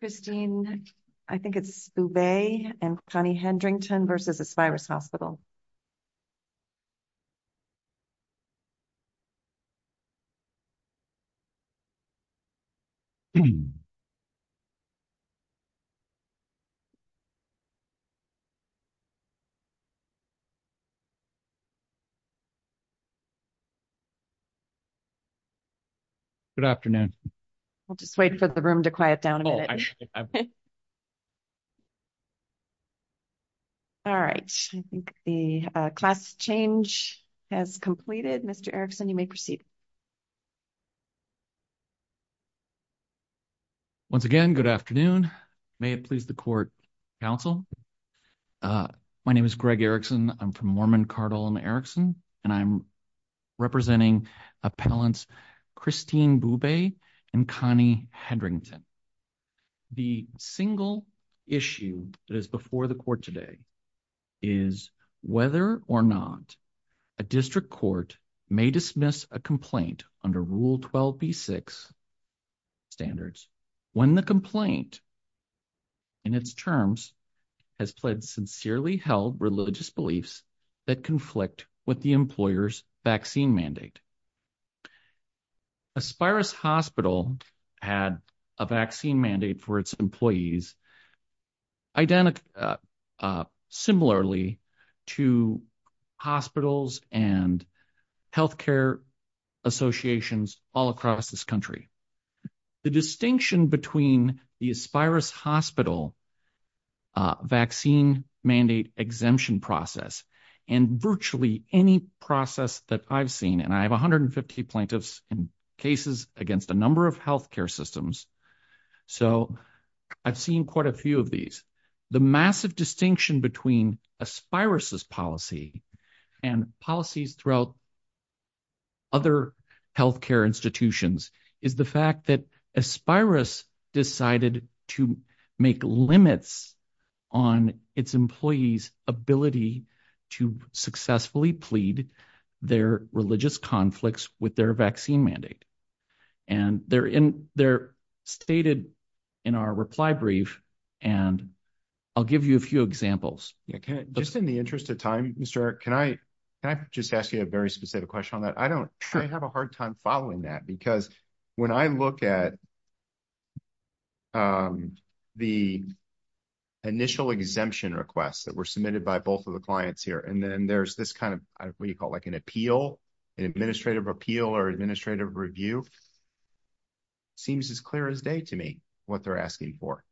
Christine, I think it's Bube and Connie Hendrington v. Aspirus Hospital. Good afternoon. We'll just wait for the room to quiet down. All right, I think the class change has completed. Mr. Erickson, you may proceed. Once again, good afternoon. May it please the court counsel. My name is Greg Erickson. I'm from Mormon Cardinal and Erickson, and I'm representing appellants Christine Bube and Connie Hendrington. The single issue that is before the court today is whether or not a district court may dismiss a complaint under Rule 12b-6 standards when the complaint in its terms has pledged sincerely held religious beliefs that conflict with the employer's vaccine mandate. Aspirus Hospital had a vaccine mandate for its employees similar to hospitals and health care associations all across this country. The distinction between the Aspirus Hospital vaccine mandate exemption process and virtually any process that I've seen, and I have 150 plaintiffs in cases against a number of health care systems, so I've seen quite a few of these. The massive distinction between Aspirus's policy and policies throughout other health care institutions is the fact that Aspirus decided to make limits on its employees' ability to successfully plead their religious conflicts with their vaccine mandate. And they're stated in our reply brief, and I'll give you a few examples. Just in the interest of time, Mr. Erickson, can I just ask you a very specific question on that? I don't have a hard time following that, because when I look at the initial exemption requests that were submitted by both of the clients here, and then there's this kind of, what do you call it, like an appeal, an administrative appeal or administrative review? Seems as clear as day to me what they're asking for.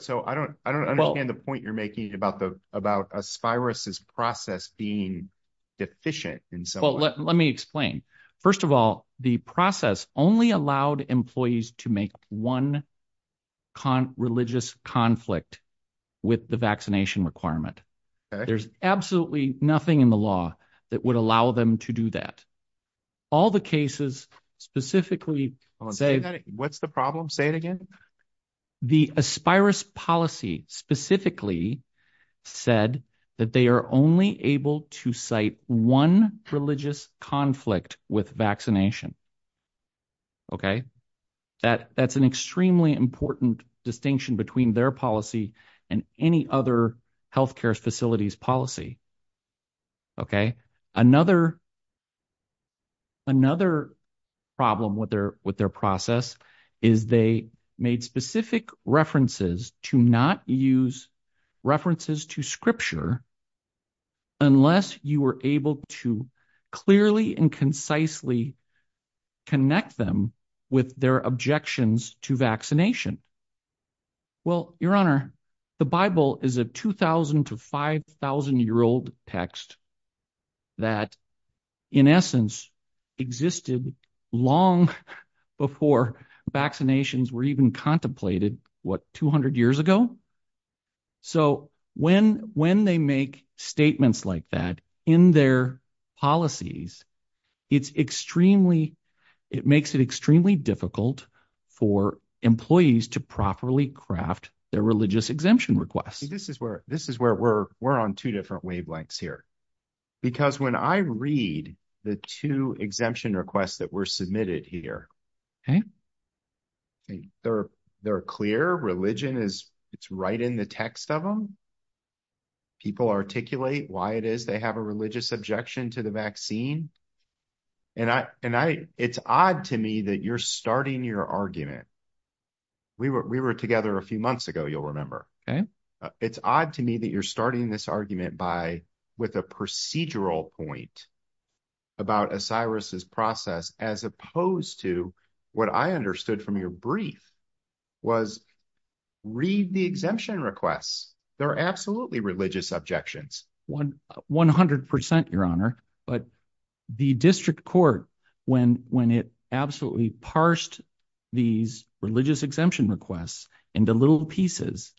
So I don't understand the point you're making about Aspirus's process being deficient in some way. Well, let me explain. First of all, the process only allowed employees to make one religious conflict with the vaccination requirement. There's absolutely nothing in the law that would allow them to do that. What's the problem? Say it again. The Aspirus policy specifically said that they are only able to cite one religious conflict with vaccination. That's an extremely important distinction between their policy and any other health care facility's policy. Another problem with their process is they made specific references to not use references to scripture unless you were able to clearly and concisely connect them with their objections to vaccination. Well, Your Honor, the Bible is a 2,000 to 5,000-year-old text that in essence existed long before vaccinations were even contemplated, what, 200 years ago? So when they make statements like that in their policies, it makes it extremely difficult for employees to properly craft their religious exemption requests. This is where we're on two different wavelengths here. Because when I read the two exemption requests that were submitted here, they're clear. Religion is right in the text of them. People articulate why it is they have a religious objection to the vaccine. It's odd to me that you're starting your argument. We were together a few months ago, you'll remember. It's odd to me that you're starting this argument with a procedural point about Aspirus' process as opposed to what I understood from your brief was read the exemption requests. They're absolutely religious objections. 100 percent, Your Honor. But the district court, when it absolutely parsed these religious exemption requests into little pieces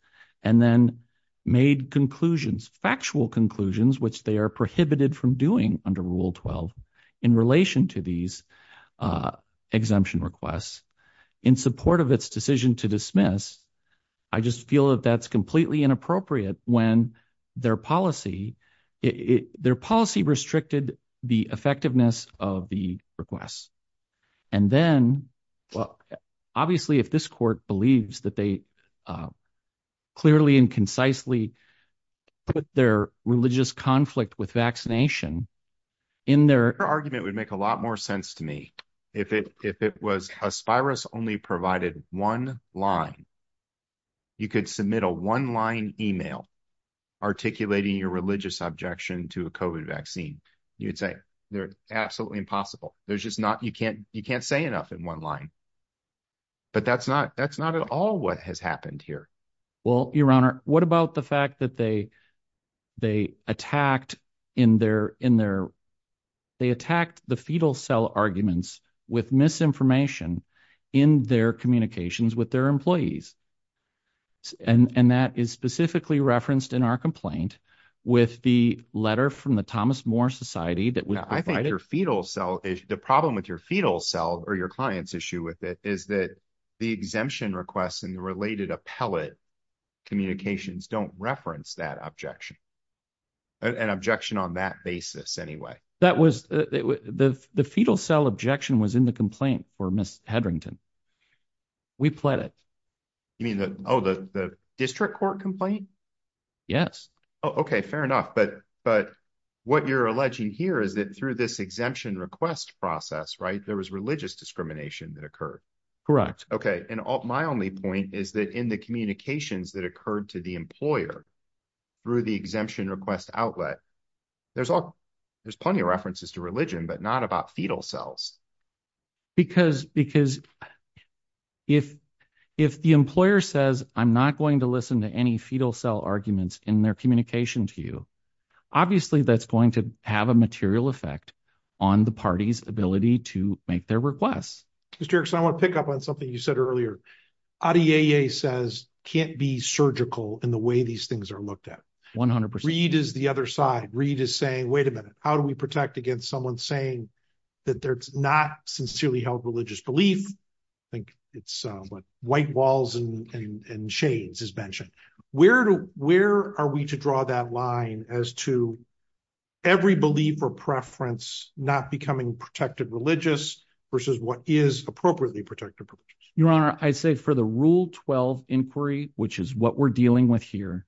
and then made conclusions, factual conclusions, which they are prohibited from doing under Rule 12 in relation to these exemption requests, in support of its decision to dismiss, I just feel that that's completely inappropriate when their policy restricted the effectiveness of the requests. And then, well, obviously if this court believes that they clearly and concisely put their religious conflict with vaccination in their… You could submit a one-line email articulating your religious objection to a COVID vaccine. You'd say they're absolutely impossible. You can't say enough in one line. But that's not at all what has happened here. Well, Your Honor, what about the fact that they attacked the fetal cell arguments with misinformation in their communications with their employees? And that is specifically referenced in our complaint with the letter from the Thomas More Society that we provided. The problem with your fetal cell or your client's issue with it is that the exemption requests and the related appellate communications don't reference that objection, an objection on that basis anyway. That was – the fetal cell objection was in the complaint for Ms. Hedrington. We pled it. You mean the – oh, the district court complaint? Yes. Oh, okay. Fair enough. But what you're alleging here is that through this exemption request process, right, there was religious discrimination that occurred. Correct. Okay. And my only point is that in the communications that occurred to the employer through the exemption request outlet, there's plenty of references to religion but not about fetal cells. Because if the employer says, I'm not going to listen to any fetal cell arguments in their communication to you, obviously that's going to have a material effect on the party's ability to make their requests. Mr. Erickson, I want to pick up on something you said earlier. Adieye says can't be surgical in the way these things are looked at. 100 percent. Reid is the other side. Reid is saying, wait a minute, how do we protect against someone saying that there's not sincerely held religious belief? I think it's what White Walls and Shades has mentioned. Where are we to draw that line as to every belief or preference not becoming protected religious versus what is appropriately protected religious? Your Honor, I say for the Rule 12 inquiry, which is what we're dealing with here,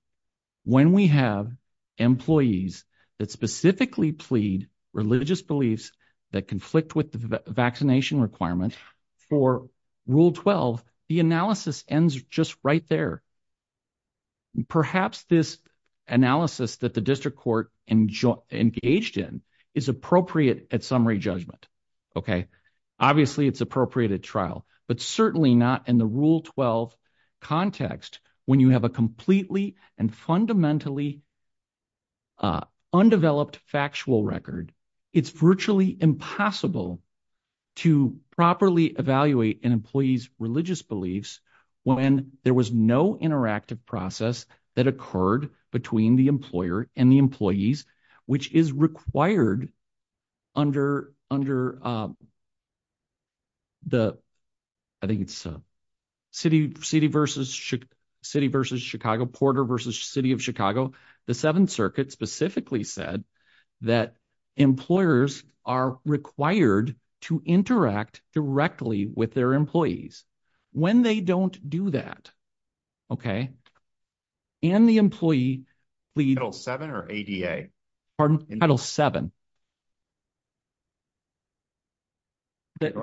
when we have employees that specifically plead religious beliefs that conflict with the vaccination requirement, for Rule 12, the analysis ends just right there. Perhaps this analysis that the district court engaged in is appropriate at summary judgment. Okay. Obviously, it's appropriate at trial. But certainly not in the Rule 12 context when you have a completely and fundamentally undeveloped factual record. It's virtually impossible to properly evaluate an employee's religious beliefs when there was no interactive process that occurred between the employer and the employees, which is required under the – I think it's City v. Chicago, Porter v. City of Chicago. The Seventh Circuit specifically said that employers are required to interact directly with their employees. When they don't do that and the employee pleads – Title VII or ADA? Go ahead.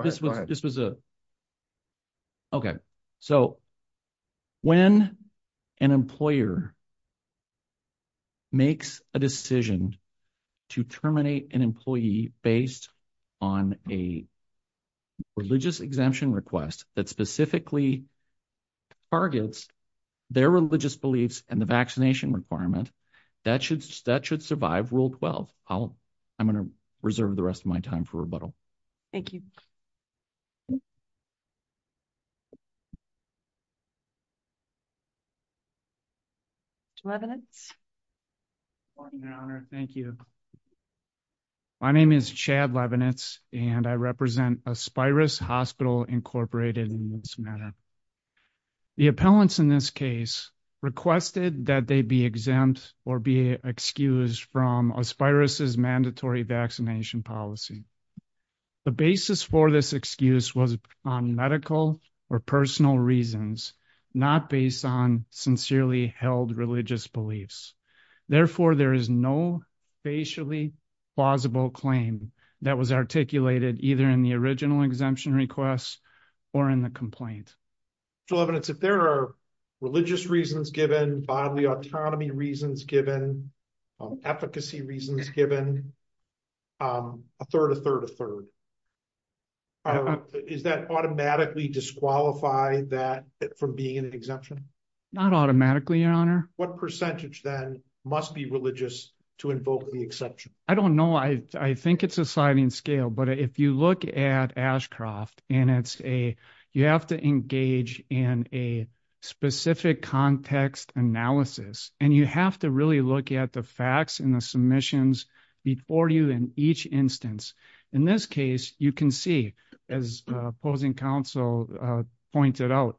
This was a – okay. So when an employer makes a decision to terminate an employee based on a religious exemption request that specifically targets their religious beliefs and the vaccination requirement, that should survive Rule 12. I'm going to reserve the rest of my time for rebuttal. Thank you. Good morning, Your Honor. Thank you. My name is Chad Levenitz, and I represent Aspiris Hospital, Incorporated in this matter. The appellants in this case requested that they be exempt or be excused from Aspiris' mandatory vaccination policy. The basis for this excuse was on medical or personal reasons, not based on sincerely held religious beliefs. Therefore, there is no facially plausible claim that was articulated either in the original exemption request or in the complaint. So, Levenitz, if there are religious reasons given, bodily autonomy reasons given, efficacy reasons given, a third, a third, a third, does that automatically disqualify that from being an exemption? Not automatically, Your Honor. What percentage, then, must be religious to invoke the exception? I don't know. I think it's a sliding scale, but if you look at Ashcroft, and it's a, you have to engage in a specific context analysis, and you have to really look at the facts and the submissions before you in each instance. In this case, you can see, as opposing counsel pointed out,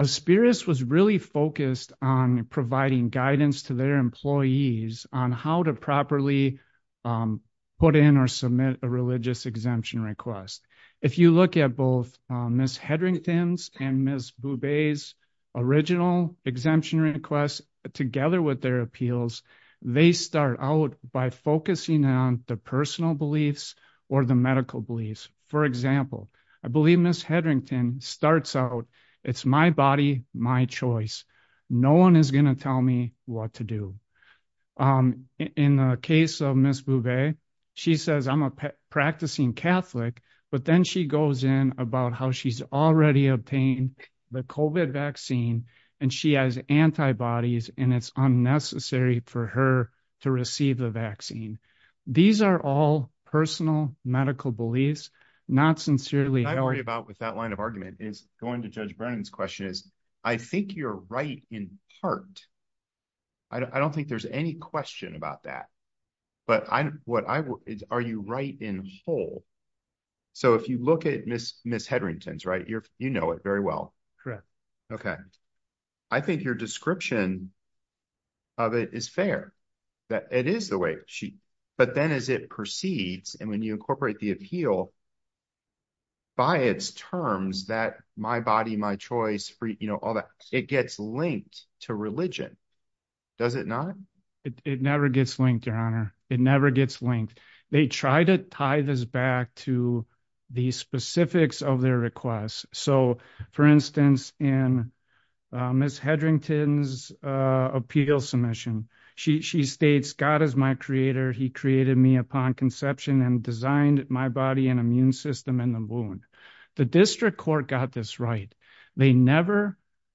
Aspiris was really focused on providing guidance to their employees on how to properly put in or submit a religious exemption request. If you look at both Ms. Hedrington's and Ms. Bouvet's original exemption requests, together with their appeals, they start out by focusing on the personal beliefs or the medical beliefs. For example, I believe Ms. Hedrington starts out, it's my body, my choice. No one is going to tell me what to do. In the case of Ms. Bouvet, she says, I'm a practicing Catholic, but then she goes in about how she's already obtained the COVID vaccine, and she has antibodies, and it's unnecessary for her to receive the vaccine. These are all personal medical beliefs, not sincerely held. What I worry about with that line of argument is going to Judge Brennan's question is, I think you're right in part. I don't think there's any question about that. But what I, are you right in whole? So if you look at Ms. Hedrington's, right, you know it very well. Correct. Okay. I think your description of it is fair, that it is the way she, but then as it proceeds, and when you incorporate the appeal, by its terms that my body, my choice, you know, all that, it gets linked to religion. Does it not? It never gets linked, Your Honor. It never gets linked. They try to tie this back to the specifics of their requests. So, for instance, in Ms. Hedrington's appeal submission, she states, God is my creator, he created me upon conception and designed my body and immune system in the womb. The district court got this right.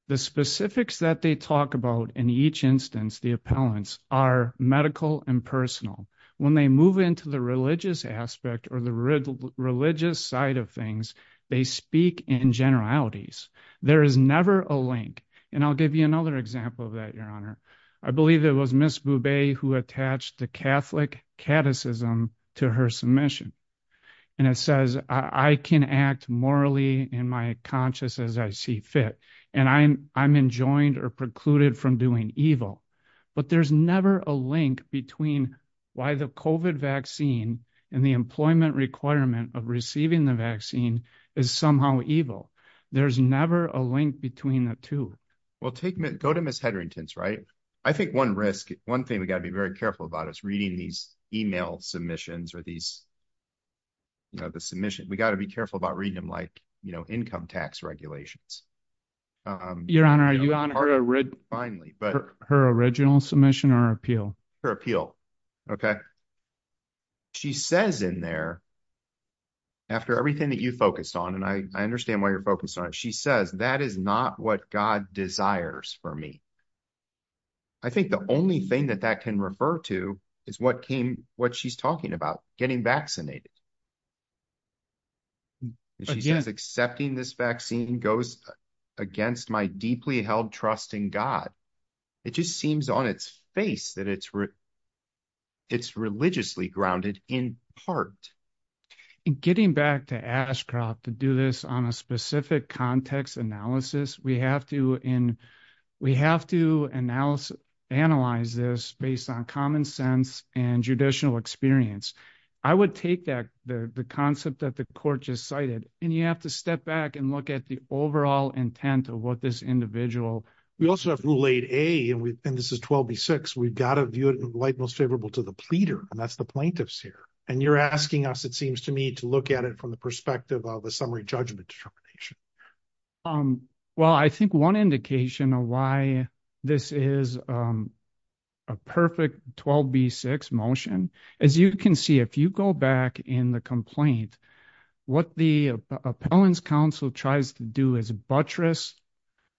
The specifics that they talk about in each instance, the appellants, are medical and personal. When they move into the religious aspect or the religious side of things, they speak in generalities. There is never a link. And I'll give you another example of that, Your Honor. I believe it was Ms. Boubet who attached the Catholic catechism to her submission. And it says, I can act morally in my conscience as I see fit, and I'm enjoined or precluded from doing evil. But there's never a link between why the COVID vaccine and the employment requirement of receiving the vaccine is somehow evil. There's never a link between the two. Well, go to Ms. Hedrington's, right? I think one thing we've got to be very careful about is reading these email submissions or these submissions. We've got to be careful about reading them like income tax regulations. Your Honor, her original submission or her appeal? Her appeal. Okay. She says in there, after everything that you focused on, and I understand why you're focused on it. She says, that is not what God desires for me. I think the only thing that that can refer to is what she's talking about, getting vaccinated. She says, accepting this vaccine goes against my deeply held trust in God. It just seems on its face that it's religiously grounded in part. In getting back to Ashcroft to do this on a specific context analysis, we have to analyze this based on common sense and judicial experience. I would take the concept that the court just cited, and you have to step back and look at the overall intent of what this individual. We also have Rule 8A, and this is 12B6. We've got to view it in light most favorable to the pleader, and that's the plaintiffs here. And you're asking us, it seems to me, to look at it from the perspective of a summary judgment determination. Well, I think one indication of why this is a perfect 12B6 motion, as you can see, if you go back in the complaint, what the appellant's counsel tries to do is buttress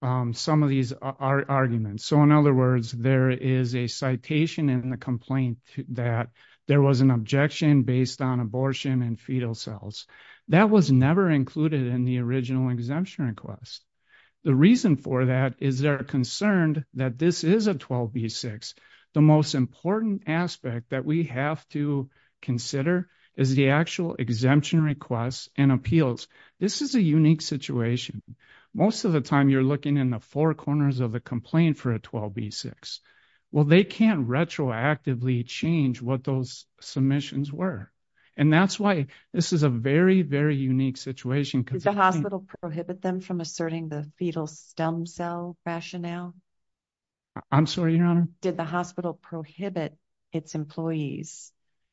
some of these arguments. So, in other words, there is a citation in the complaint that there was an objection based on abortion and fetal cells. That was never included in the original exemption request. The reason for that is they're concerned that this is a 12B6. The most important aspect that we have to consider is the actual exemption requests and appeals. This is a unique situation. Most of the time, you're looking in the four corners of the complaint for a 12B6. Well, they can't retroactively change what those submissions were, and that's why this is a very, very unique situation. Did the hospital prohibit them from asserting the fetal stem cell rationale? I'm sorry, Your Honor? Did the hospital prohibit its employees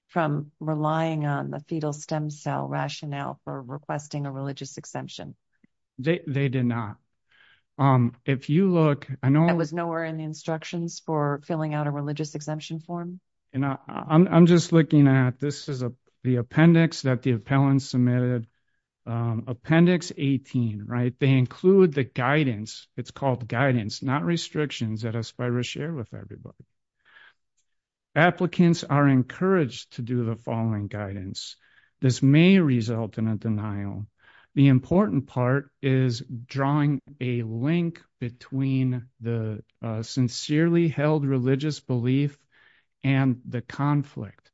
from relying on the fetal stem cell rationale for requesting a religious exemption? They did not. I was nowhere in the instructions for filling out a religious exemption form. I'm just looking at this is the appendix that the appellant submitted, Appendix 18, right? They include the guidance. It's called guidance, not restrictions that Aspira share with everybody. Applicants are encouraged to do the following guidance. This may result in a denial. The important part is drawing a link between the sincerely held religious belief and the conflict.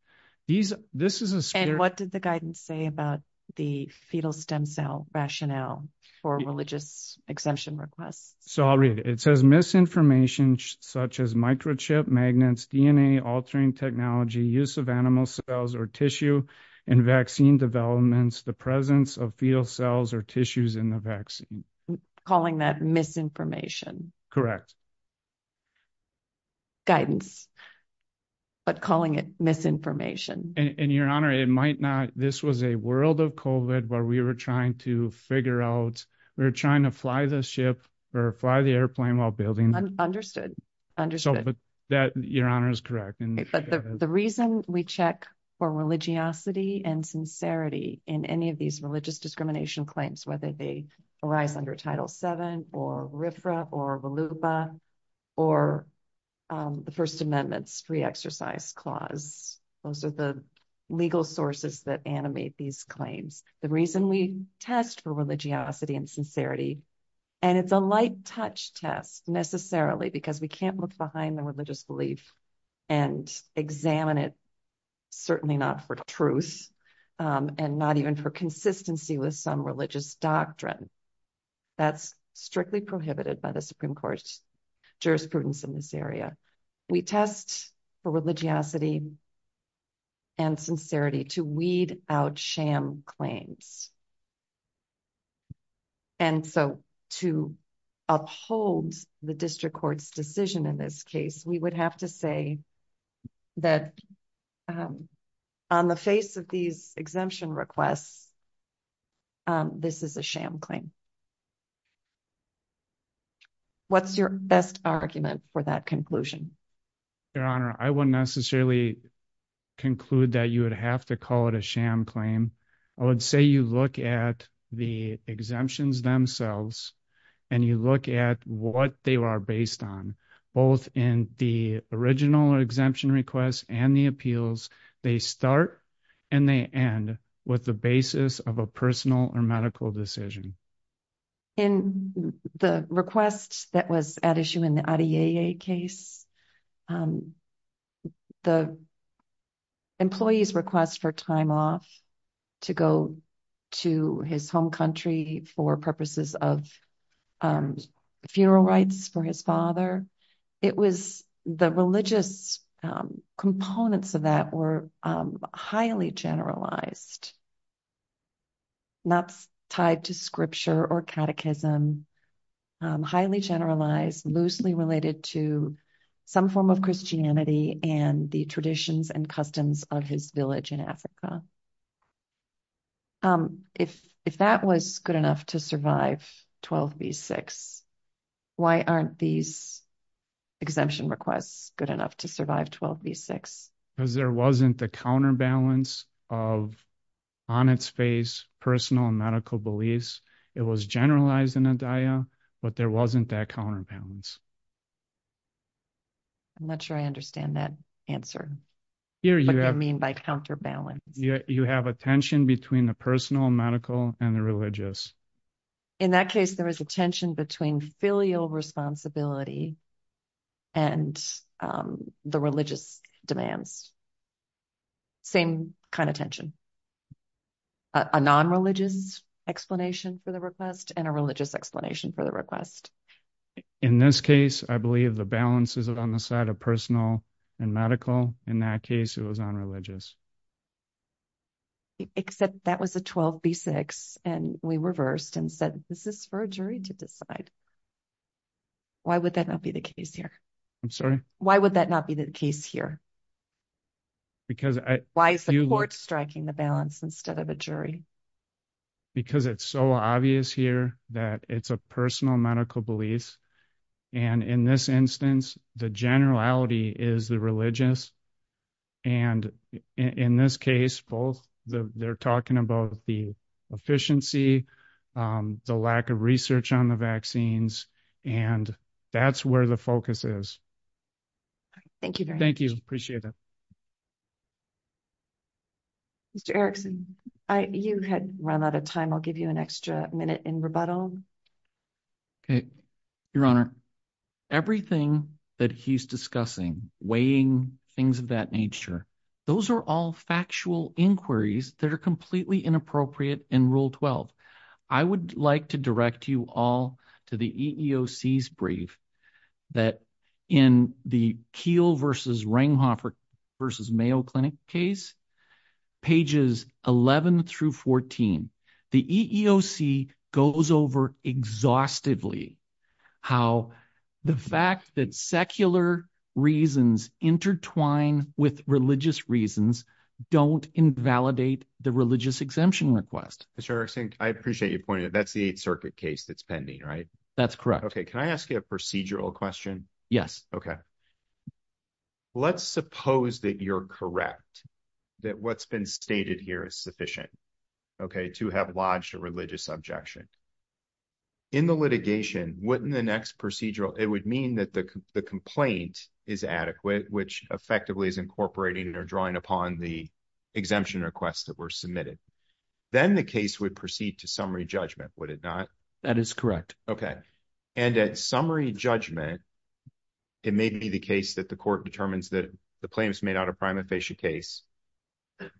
And what did the guidance say about the fetal stem cell rationale for religious exemption requests? So I'll read it. It says misinformation such as microchip, magnets, DNA, altering technology, use of animal cells or tissue, and vaccine developments, the presence of fetal cells or tissues in the vaccine. Calling that misinformation? Correct. Guidance, but calling it misinformation. And Your Honor, it might not. This was a world of COVID where we were trying to figure out. We were trying to fly the ship or fly the airplane while building. Understood. Understood. Your Honor is correct. The reason we check for religiosity and sincerity in any of these religious discrimination claims, whether they arise under Title VII or RFRA or VOLUPA or the First Amendment's Free Exercise Clause, those are the legal sources that animate these claims. The reason we test for religiosity and sincerity, and it's a light-touch test necessarily because we can't look behind the religious belief and examine it, certainly not for truth and not even for consistency with some religious doctrine. That's strictly prohibited by the Supreme Court's jurisprudence in this area. We test for religiosity and sincerity to weed out sham claims. And so to uphold the district court's decision in this case, we would have to say that on the face of these exemption requests, this is a sham claim. What's your best argument for that conclusion? Your Honor, I wouldn't necessarily conclude that you would have to call it a sham claim. I would say you look at the exemptions themselves and you look at what they are based on. Both in the original exemption request and the appeals, they start and they end with the basis of a personal or medical decision. In the request that was at issue in the Adieye case, the employee's request for time off to go to his home country for purposes of funeral rites for his father, it was the religious components of that were highly generalized. Not tied to scripture or catechism, highly generalized, loosely related to some form of Christianity and the traditions and customs of his village in Africa. If that was good enough to survive 12 v. 6, why aren't these exemption requests good enough to survive 12 v. 6? Because there wasn't the counterbalance of on its face personal and medical beliefs. It was generalized in Adieye, but there wasn't that counterbalance. I'm not sure I understand that answer. What do you mean by counterbalance? You have a tension between the personal, medical, and the religious. In that case, there was a tension between filial responsibility and the religious demands. Same kind of tension. A non-religious explanation for the request and a religious explanation for the request. In this case, I believe the balance is on the side of personal and medical. In that case, it was non-religious. Except that was a 12 v. 6, and we reversed and said, is this for a jury to decide? Why would that not be the case here? I'm sorry? Why would that not be the case here? Why is the court striking the balance instead of a jury? Because it's so obvious here that it's a personal medical belief. In this instance, the generality is the religious. In this case, they're talking about the efficiency, the lack of research on the vaccines, and that's where the focus is. Thank you very much. Thank you. I appreciate it. Mr. Erickson, you had run out of time. I'll give you an extra minute in rebuttal. Okay. Your Honor, everything that he's discussing, weighing, things of that nature, those are all factual inquiries that are completely inappropriate in Rule 12. I would like to direct you all to the EEOC's brief that in the Keele v. Ringhofer v. Mayo Clinic case, pages 11 through 14, the EEOC goes over exhaustively how the fact that secular reasons intertwine with religious reasons don't invalidate the religious exemption request. Mr. Erickson, I appreciate your point. That's the 8th Circuit case that's pending, right? That's correct. Okay. Can I ask you a procedural question? Yes. Okay. Let's suppose that you're correct, that what's been stated here is sufficient, okay, to have lodged a religious objection. In the litigation, wouldn't the next procedural – it would mean that the complaint is adequate, which effectively is incorporating or drawing upon the exemption request that were submitted. Then the case would proceed to summary judgment, would it not? That is correct. Okay. And at summary judgment, it may be the case that the court determines that the claim is made out of prima facie case.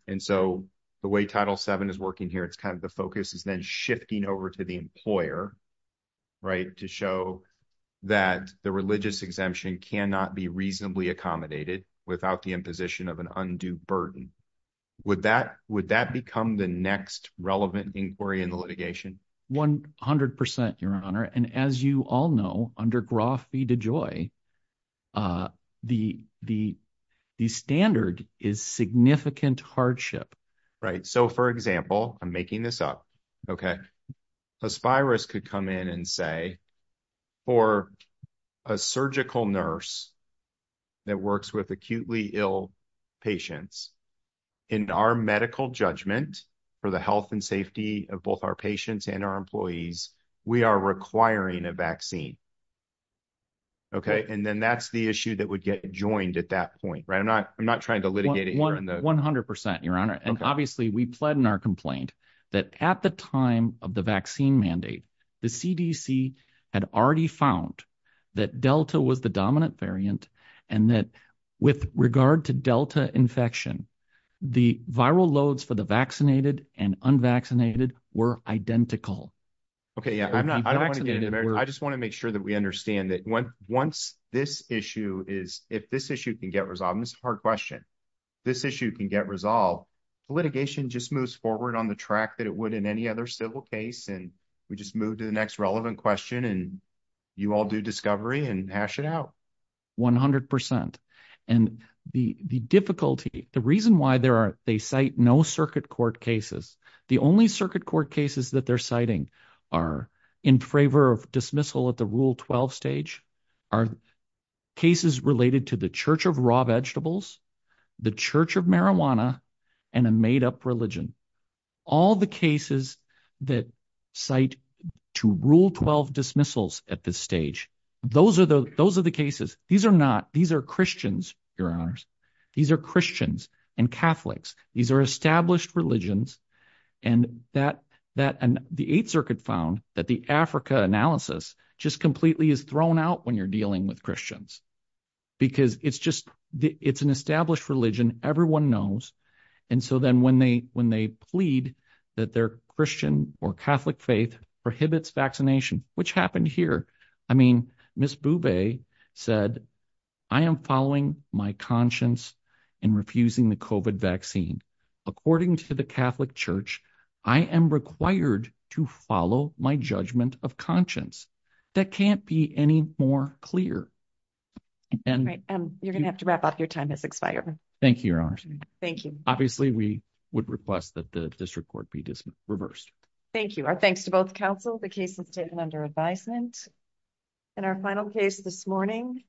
And so the way Title VII is working here, it's kind of the focus is then shifting over to the employer, right, to show that the religious exemption cannot be reasonably accommodated without the imposition of an undue burden. Would that become the next relevant inquiry in the litigation? One hundred percent, Your Honor. And as you all know, under Groff v. DeJoy, the standard is significant hardship. Right. So, for example – I'm making this up, okay? Aspirus could come in and say, for a surgical nurse that works with acutely ill patients, in our medical judgment for the health and safety of both our patients and our employees, we are requiring a vaccine. Okay? And then that's the issue that would get joined at that point, right? I'm not trying to litigate it here. One hundred percent, Your Honor. And obviously we pled in our complaint that at the time of the vaccine mandate, the CDC had already found that Delta was the dominant variant and that with regard to Delta infection, the viral loads for the vaccinated and unvaccinated were identical. Okay, yeah. I just want to make sure that we understand that once this issue is – if this issue can get resolved – and this is a hard question. If this issue can get resolved, litigation just moves forward on the track that it would in any other civil case and we just move to the next relevant question and you all do discovery and hash it out. One hundred percent. And the difficulty, the reason why they cite no circuit court cases, the only circuit court cases that they're citing are in favor of dismissal at the Rule 12 stage, are cases related to the Church of Raw Vegetables, the Church of Marijuana, and a made-up religion. All the cases that cite to Rule 12 dismissals at this stage, those are the cases. These are not – these are Christians, Your Honors. These are Christians and Catholics. These are established religions and the Eighth Circuit found that the Africa analysis just completely is thrown out when you're dealing with Christians because it's just – it's an established religion. Everyone knows. And so then when they plead that their Christian or Catholic faith prohibits vaccination, which happened here, I mean, Ms. Bube said, I am following my conscience in refusing the COVID vaccine. According to the Catholic Church, I am required to follow my judgment of conscience. That can't be any more clear. Great. You're going to have to wrap up. Your time has expired. Thank you, Your Honors. Thank you. Obviously, we would request that the district court be reversed. Thank you. Our thanks to both counsel. The case is taken under advisement. And our final case this morning.